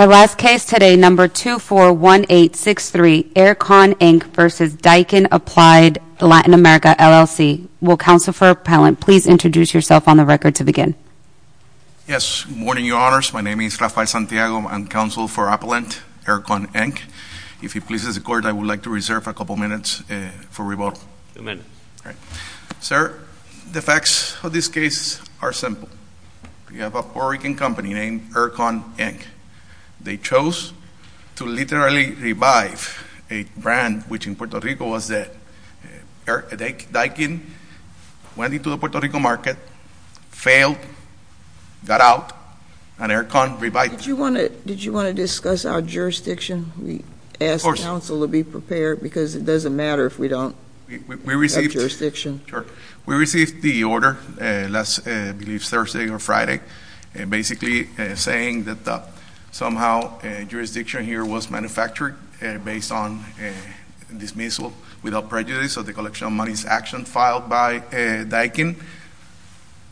Our last case today, number 241863, Air-Con, Inc. v. Daikin Applied Latin America, LLC. Will Counsel for Appellant please introduce yourself on the record to begin? Yes. Good morning, Your Honors. My name is Rafael Santiago. I'm Counsel for Appellant, Air-Con, Inc. If he pleases the Court, I would like to reserve a couple minutes for rebuttal. Two minutes. Sir, the facts of this case are simple. We have a Puerto Rican company named Air-Con, Inc. They chose to literally revive a brand which in Puerto Rico was dead. Daikin went into the Puerto Rico market, failed, got out, and Air-Con revived it. Did you want to discuss our jurisdiction? We ask counsel to be prepared because it doesn't matter if we don't have jurisdiction. Sure. We received the order last, I believe, Thursday or Friday, basically saying that somehow jurisdiction here was manufactured based on dismissal without prejudice of the collection of money's action filed by Daikin.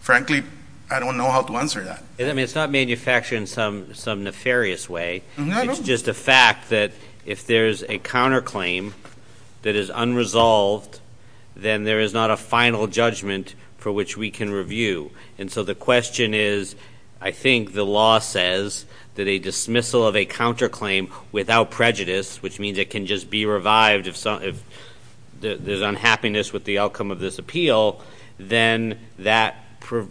Frankly, I don't know how to answer that. I mean, it's not manufactured in some nefarious way. It's just a fact that if there's a counterclaim that is unresolved, then there is not a final judgment for which we can review. And so the question is, I think the law says that a dismissal of a counterclaim without prejudice, which means it can just be revived if there's unhappiness with the outcome of this appeal, then that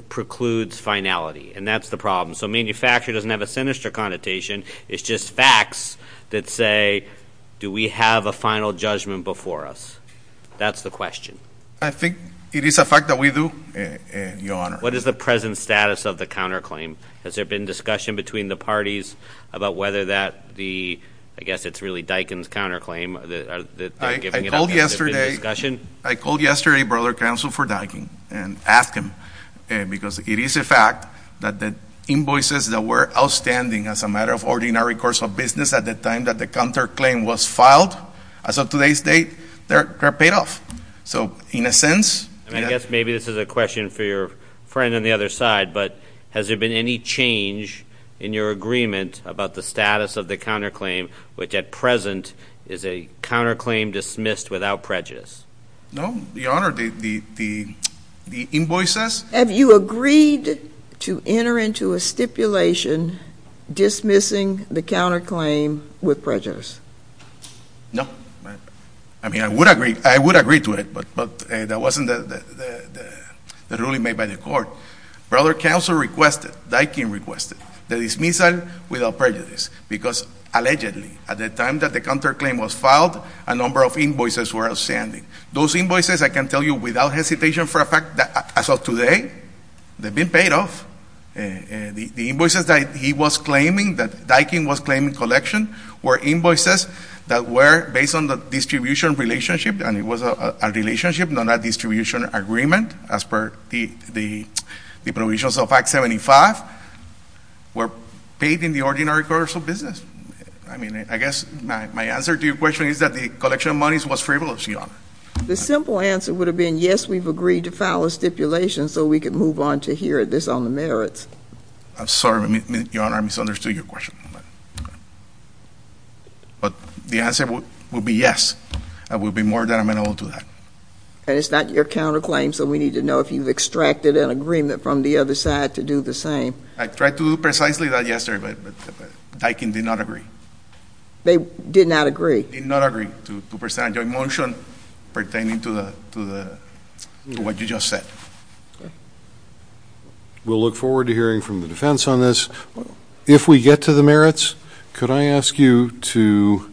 precludes finality, and that's the problem. So manufacture doesn't have a sinister connotation. It's just facts that say, do we have a final judgment before us? That's the question. I think it is a fact that we do, your honor. What is the present status of the counterclaim? Has there been discussion between the parties about whether that the, I guess it's really Daikin's counterclaim, that they're giving it up, has there been discussion? I called yesterday, brother, counsel for Daikin and asked him. Because it is a fact that the invoices that were outstanding as a matter of ordinary course of business at the time that the counterclaim was filed. As of today's date, they're paid off. So in a sense- And I guess maybe this is a question for your friend on the other side, but has there been any change in your agreement about the status of the counterclaim, which at present is a counterclaim dismissed without prejudice? No, your honor, the invoices- Have you agreed to enter into a stipulation dismissing the counterclaim with prejudice? No. I mean, I would agree to it, but that wasn't the ruling made by the court. Brother, counsel requested, Daikin requested, the dismissal without prejudice. Because allegedly, at the time that the counterclaim was filed, a number of invoices were outstanding. Those invoices, I can tell you without hesitation for a fact, as of today, they've been paid off. The invoices that he was claiming, that Daikin was claiming collection, were invoices that were based on the distribution relationship, and it was a relationship, not a distribution agreement, as per the provisions of Act 75. Were paid in the ordinary commercial business. I mean, I guess my answer to your question is that the collection of monies was frivolous, your honor. The simple answer would have been yes, we've agreed to file a stipulation so we can move on to hear this on the merits. I'm sorry, your honor, I misunderstood your question. But the answer would be yes, I will be more than amenable to that. And it's not your counterclaim, so we need to know if you've extracted an agreement from the other side to do the same. I tried to do precisely that yesterday, but Daikin did not agree. They did not agree? Did not agree to present a joint motion pertaining to what you just said. We'll look forward to hearing from the defense on this. If we get to the merits, could I ask you to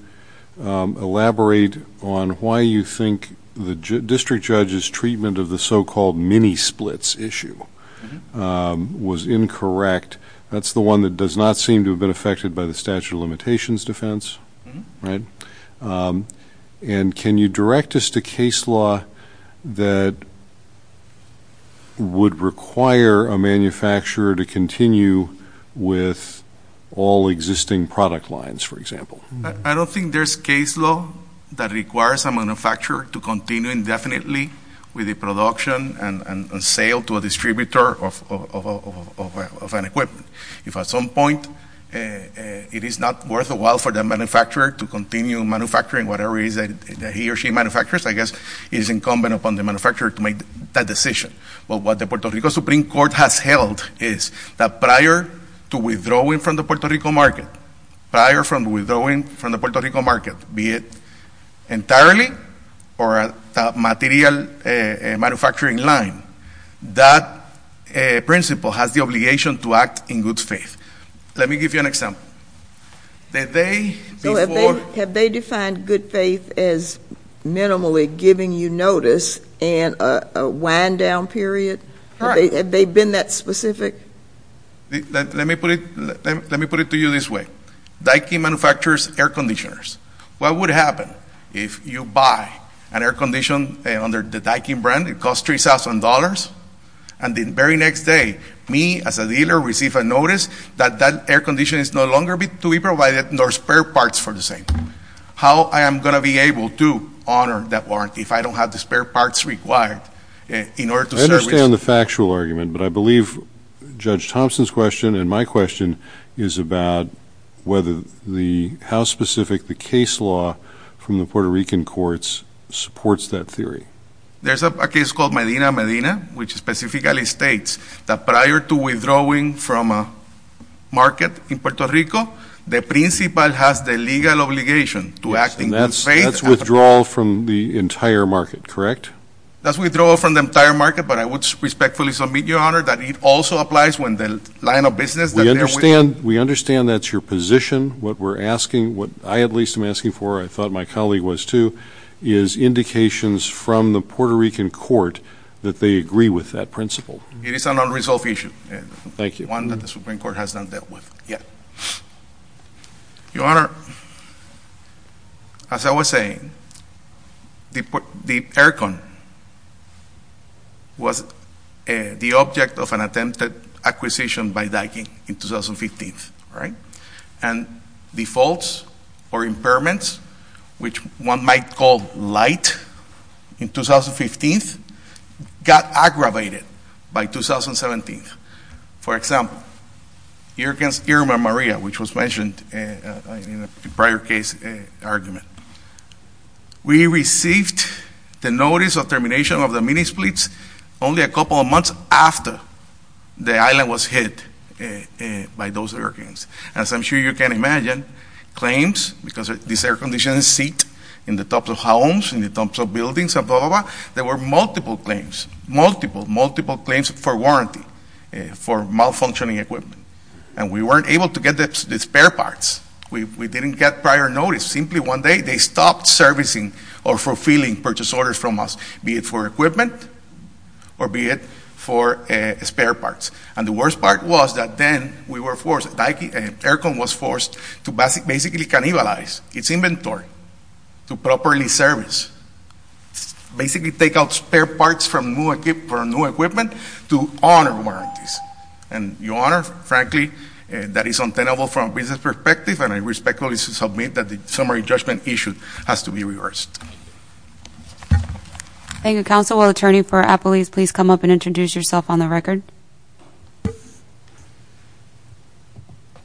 elaborate on why you think the district judge's treatment of the so-called mini-splits issue was incorrect? That's the one that does not seem to have been affected by the statute of limitations defense, right? And can you direct us to case law that would require a manufacturer to continue with all existing product lines, for example? I don't think there's case law that requires a manufacturer to continue indefinitely with the production and sale to a distributor of an equipment. If at some point it is not worth a while for the manufacturer to continue manufacturing whatever it is that he or she manufactures, I guess it is incumbent upon the manufacturer to make that decision. But what the Puerto Rico Supreme Court has held is that prior to withdrawing from the Puerto Rico market, prior from withdrawing from the Puerto Rico market, be it entirely or a material manufacturing line, that principle has the obligation to act in good faith. Let me give you an example. The day before- Have they defined good faith as minimally giving you notice and a wind down period? Have they been that specific? Let me put it to you this way. Dyking manufactures air conditioners. What would happen if you buy an air condition under the Dyking brand, it costs $3,000. And the very next day, me as a dealer receive a notice that that air condition is no longer to be provided, nor spare parts for the same. How I am going to be able to honor that warrant if I don't have the spare parts required in order to service- I'm going to stay on the factual argument, but I believe Judge Thompson's question and my question is about whether the, how specific the case law from the Puerto Rican courts supports that theory. There's a case called Medina Medina, which specifically states that prior to withdrawing from a market in Puerto Rico, the principal has the legal obligation to act in good faith- And that's withdrawal from the entire market, correct? That's withdrawal from the entire market, but I would respectfully submit, Your Honor, that it also applies when the line of business- We understand that's your position. What we're asking, what I at least am asking for, I thought my colleague was too, is indications from the Puerto Rican court that they agree with that principle. It is an unresolved issue. Thank you. One that the Supreme Court has not dealt with yet. Your Honor, as I was saying, the air con was the object of an attempted acquisition by Dyking in 2015, right? And the faults or impairments, which one might call light, in 2015 got aggravated by 2017. For example, Irma Maria, which was mentioned in a prior case argument. We received the notice of termination of the mini-splits only a couple of months after the island was hit by those hurricanes. As I'm sure you can imagine, claims, because these air conditioners sit in the tops of homes, in the tops of buildings, there were multiple claims, multiple, multiple claims for warranty for malfunctioning equipment. And we weren't able to get the spare parts. We didn't get prior notice. Simply one day they stopped servicing or fulfilling purchase orders from us, be it for equipment or be it for spare parts. And the worst part was that then we were forced, air con was forced to basically cannibalize its inventory to properly service. Basically take out spare parts for new equipment to honor warranties. And Your Honor, frankly, that is untenable from a business perspective, and I respectfully submit that the summary judgment issue has to be reversed. Thank you, Counsel. Will Attorney for Appalachia please come up and introduce yourself on the record?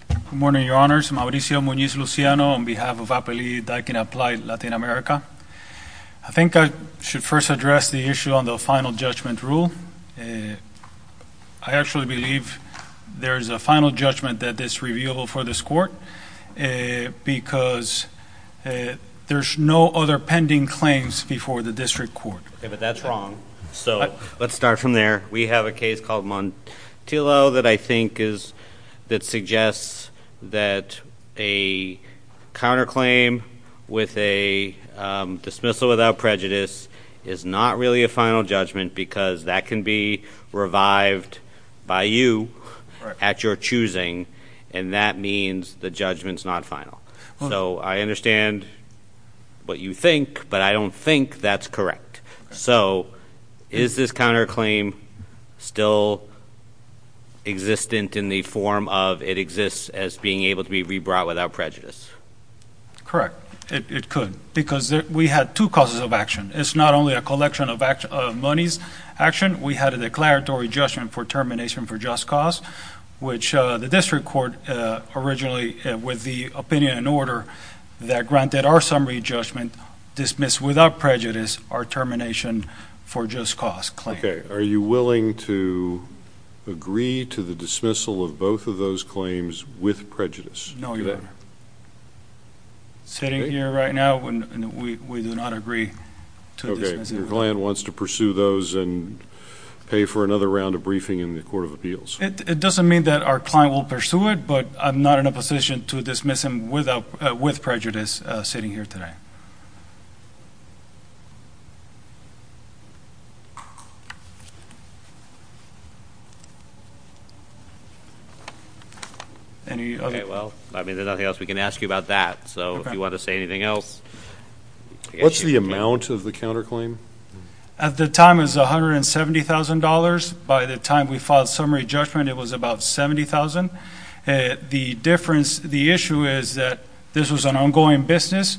Good morning, Your Honors. Mauricio Munoz Luciano on behalf of Appalachia, Daikin Applied, Latin America. I think I should first address the issue on the final judgment rule. I actually believe there's a final judgment that is reviewable for this court, because there's no other pending claims before the district court. Okay, but that's wrong. So let's start from there. We have a case called Montillo that I think is, that suggests that a counterclaim with a dismissal without prejudice is not really a final judgment, because that can be revived by you at your choosing. And that means the judgment's not final. So I understand what you think, but I don't think that's correct. So is this counterclaim still existent in the form of it exists as being able to be re-brought without prejudice? Correct, it could, because we had two causes of action. It's not only a collection of money's action, we had a declaratory judgment for termination for just cause. Which the district court originally, with the opinion and order that granted our summary judgment, dismiss without prejudice our termination for just cause claim. Okay, are you willing to agree to the dismissal of both of those claims with prejudice? No, Your Honor. Sitting here right now, we do not agree to dismiss. Okay, your client wants to pursue those and pay for another round of briefing in the Court of Appeals. It doesn't mean that our client will pursue it, but I'm not in a position to dismiss him with prejudice sitting here today. Okay, well, I mean, there's nothing else we can ask you about that. So if you want to say anything else- What's the amount of the counterclaim? At the time, it was $170,000. By the time we filed summary judgment, it was about $70,000. The difference, the issue is that this was an ongoing business.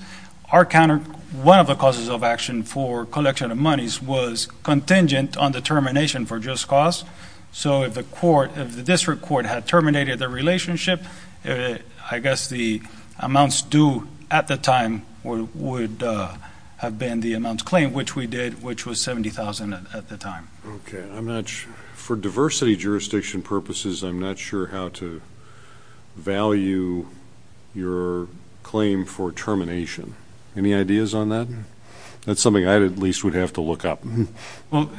Our counter, one of the causes of action for collection of monies was contingent on the termination for just cause. So if the court, if the district court had terminated the relationship, I guess the amounts due at the time would have been the amount claimed, which we did, which was $70,000 at the time. Okay, I'm not sure, for diversity jurisdiction purposes, I'm not sure how to value your claim for termination. Any ideas on that? That's something I at least would have to look up. Well,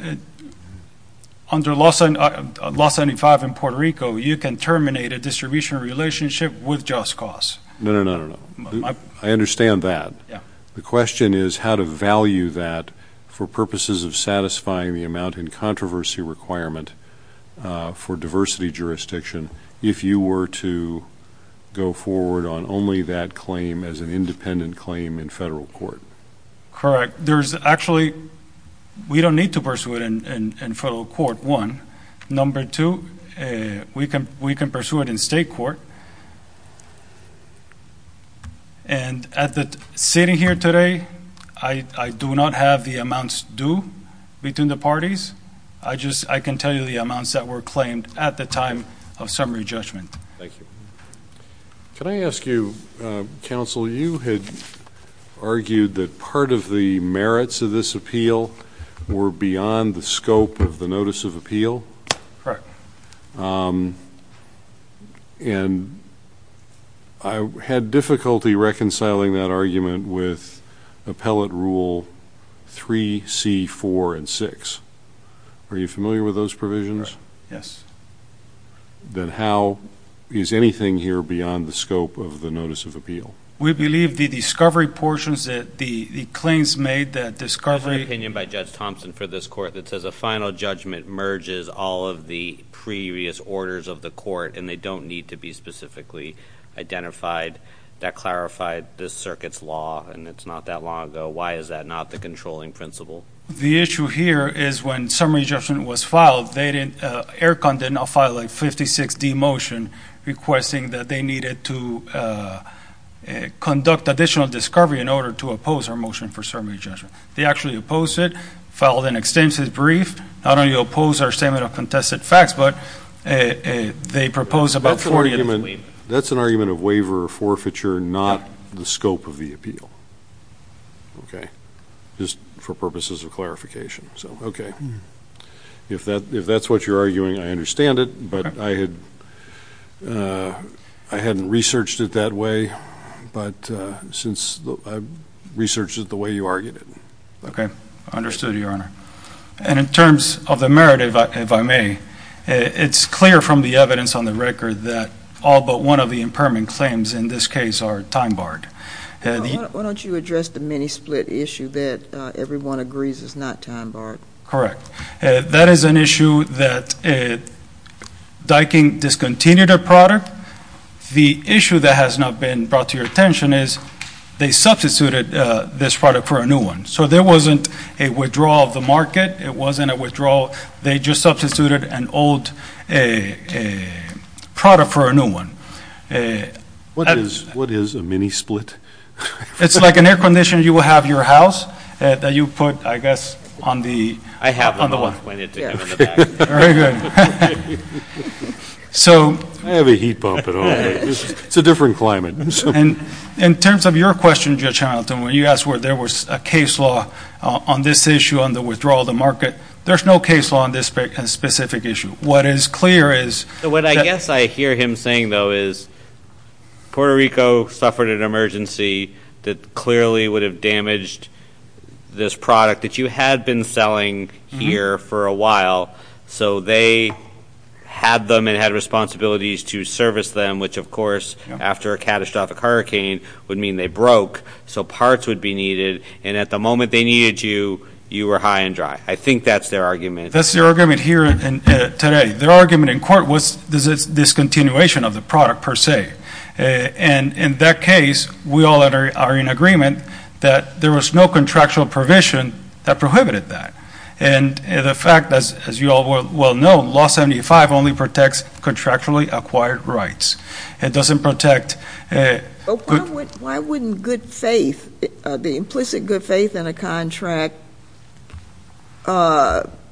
under Law 75 in Puerto Rico, you can terminate a distribution relationship with just cause. No, no, no, no, no. I understand that. The question is how to value that for purposes of satisfying the amount in controversy requirement for diversity jurisdiction if you were to go forward on only that claim as an independent claim in federal court. Correct. There's actually, we don't need to pursue it in federal court, one. Number two, we can pursue it in state court. And sitting here today, I do not have the amounts due between the parties. I can tell you the amounts that were claimed at the time of summary judgment. Thank you. Can I ask you, counsel, you had argued that part of the merits of this appeal were beyond the scope of the notice of appeal? Correct. And I had difficulty reconciling that argument with Appellate Rule 3, C, 4, and 6. Are you familiar with those provisions? Yes. Then how is anything here beyond the scope of the notice of appeal? We believe the discovery portions, the claims made, the discovery- There's an opinion by Judge Thompson for this court that says a final judgment merges all of the previous orders of the court, and they don't need to be specifically identified. That clarified the circuit's law, and it's not that long ago. Why is that not the controlling principle? The issue here is when summary judgment was filed, Air Con did not file a 56-D motion requesting that they needed to conduct additional discovery in order to oppose our motion for summary judgment. They actually opposed it, filed an extensive brief. Not only opposed our statement of contested facts, but they proposed about 40- That's an argument of waiver or forfeiture, not the scope of the appeal. Okay. Just for purposes of clarification. So, okay. If that's what you're arguing, I understand it, but I hadn't researched it that way, but since I researched it the way you argued it. Okay. Understood, Your Honor. And in terms of the merit, if I may, it's clear from the evidence on the record that all but one of the impairment claims in this case are time barred. Why don't you address the many split issue that everyone agrees is not time barred? Correct. That is an issue that Dyking discontinued a product. The issue that has not been brought to your attention is they substituted this product for a new one. So, there wasn't a withdrawal of the market. It wasn't a withdrawal. They just substituted an old product for a new one. What is a mini split? It's like an air conditioner you will have in your house that you put, I guess, on the- I have them all planted together in the back. Very good. So- I have a heat pump and all that. It's a different climate. In terms of your question, Judge Hamilton, when you asked where there was a case law on this issue, on the withdrawal of the market, there's no case law on this specific issue. What is clear is- What I guess I hear him saying, though, is Puerto Rico suffered an emergency that clearly would have damaged this product that you had been selling here for a while, so they had them and had responsibilities to service them, which, of course, after a catastrophic hurricane would mean they broke, so parts would be needed. And at the moment they needed you, you were high and dry. I think that's their argument. That's their argument here today. Their argument in court was this discontinuation of the product, per se. And in that case, we all are in agreement that there was no contractual provision that prohibited that. And the fact, as you all well know, Law 75 only protects contractually acquired rights. It doesn't protect- Why wouldn't good faith, the implicit good faith in a contract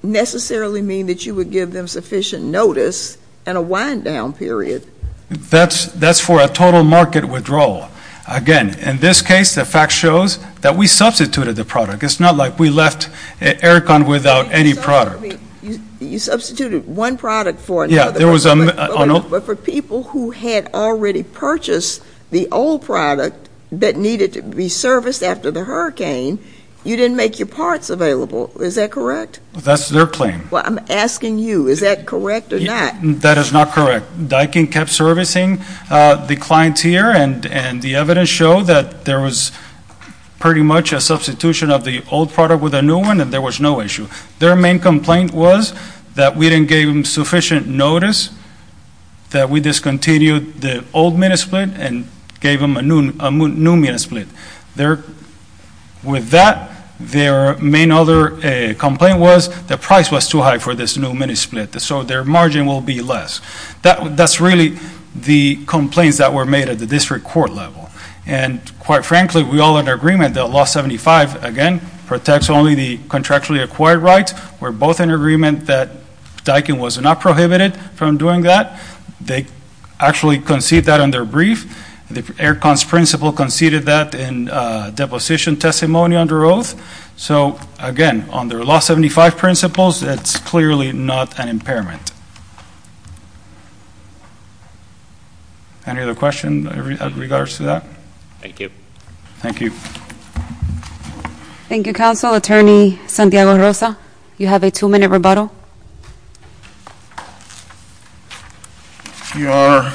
necessarily mean that you would give them sufficient notice and a wind-down period? That's for a total market withdrawal. Again, in this case, the fact shows that we substituted the product. It's not like we left Aircon without any product. You substituted one product for another. Yeah, there was a- But for people who had already purchased the old product that needed to be serviced after the hurricane, you didn't make your parts available. Is that correct? That's their claim. Well, I'm asking you, is that correct or not? That is not correct. Dykin kept servicing the clienteer, and the evidence showed that there was pretty much a substitution of the old product with a new one, and there was no issue. Their main complaint was that we didn't give them sufficient notice, that we discontinued the old mini-split and gave them a new mini-split. With that, their main other complaint was the price was too high for this new mini-split, so their margin will be less. That's really the complaints that were made at the district court level. And quite frankly, we all are in agreement that Law 75, again, protects only the contractually acquired rights. We're both in agreement that Dykin was not prohibited from doing that. They actually concede that on their brief. The Air Cons principle conceded that in deposition testimony under oath. So again, on their Law 75 principles, it's clearly not an impairment. Any other question in regards to that? Thank you. Thank you. Thank you, Counsel, Attorney Santiago Rosa. You have a two-minute rebuttal. Your Honor,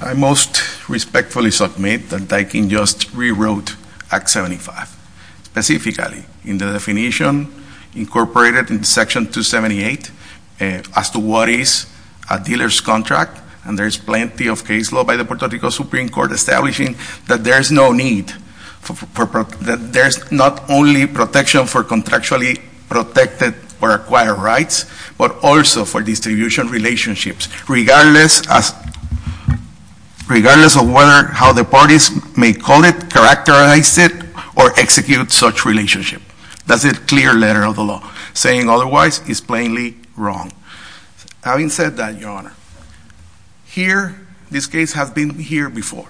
I most respectfully submit that Dykin just rewrote Act 75. Specifically, in the definition incorporated in Section 278, as to what is a dealer's contract, and there's plenty of case law by the Puerto Rico Supreme Court establishing that there's no need for, that there's not only protection for contractually protected or acquired rights, but also for distribution relationships, regardless of whether, how the parties may call it, characterize it, or execute such relationship. That's a clear letter of the law. Saying otherwise is plainly wrong. Having said that, Your Honor, here, this case has been here before.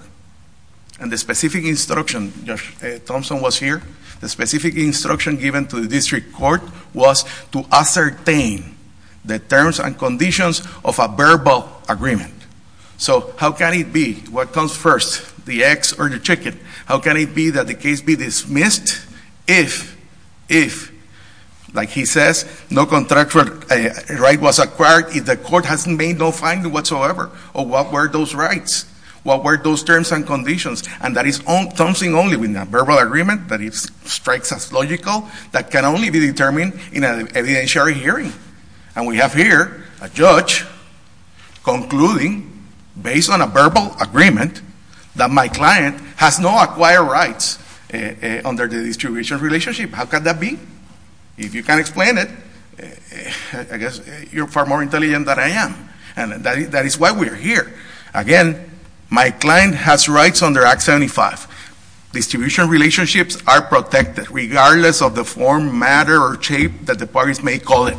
And the specific instruction, Thompson was here. The specific instruction given to the district court was to ascertain the terms and conditions of a verbal agreement. So how can it be, what comes first, the eggs or the chicken? How can it be that the case be dismissed if, like he says, no contractual right was acquired, if the court has made no finding whatsoever? Or what were those rights? What were those terms and conditions? And that is Thompson only with a verbal agreement, that it strikes as logical, that can only be determined in an evidentiary hearing. And we have here a judge concluding, based on a verbal agreement, that my client has no acquired rights under the distribution relationship. How could that be? If you can't explain it, I guess you're far more intelligent than I am. And that is why we are here. Again, my client has rights under Act 75. Distribution relationships are protected regardless of the form, matter, or shape that the parties may call it.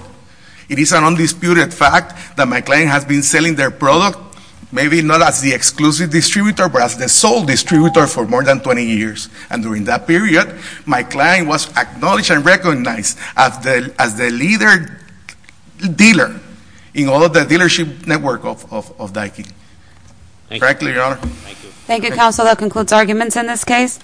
It is an undisputed fact that my client has been selling their product, maybe not as the exclusive distributor, but as the sole distributor for more than 20 years. And during that period, my client was acknowledged and recognized as the leader dealer in all of the dealership network of Dyckie. Correctly, Your Honor. Thank you, counsel. That concludes arguments in this case.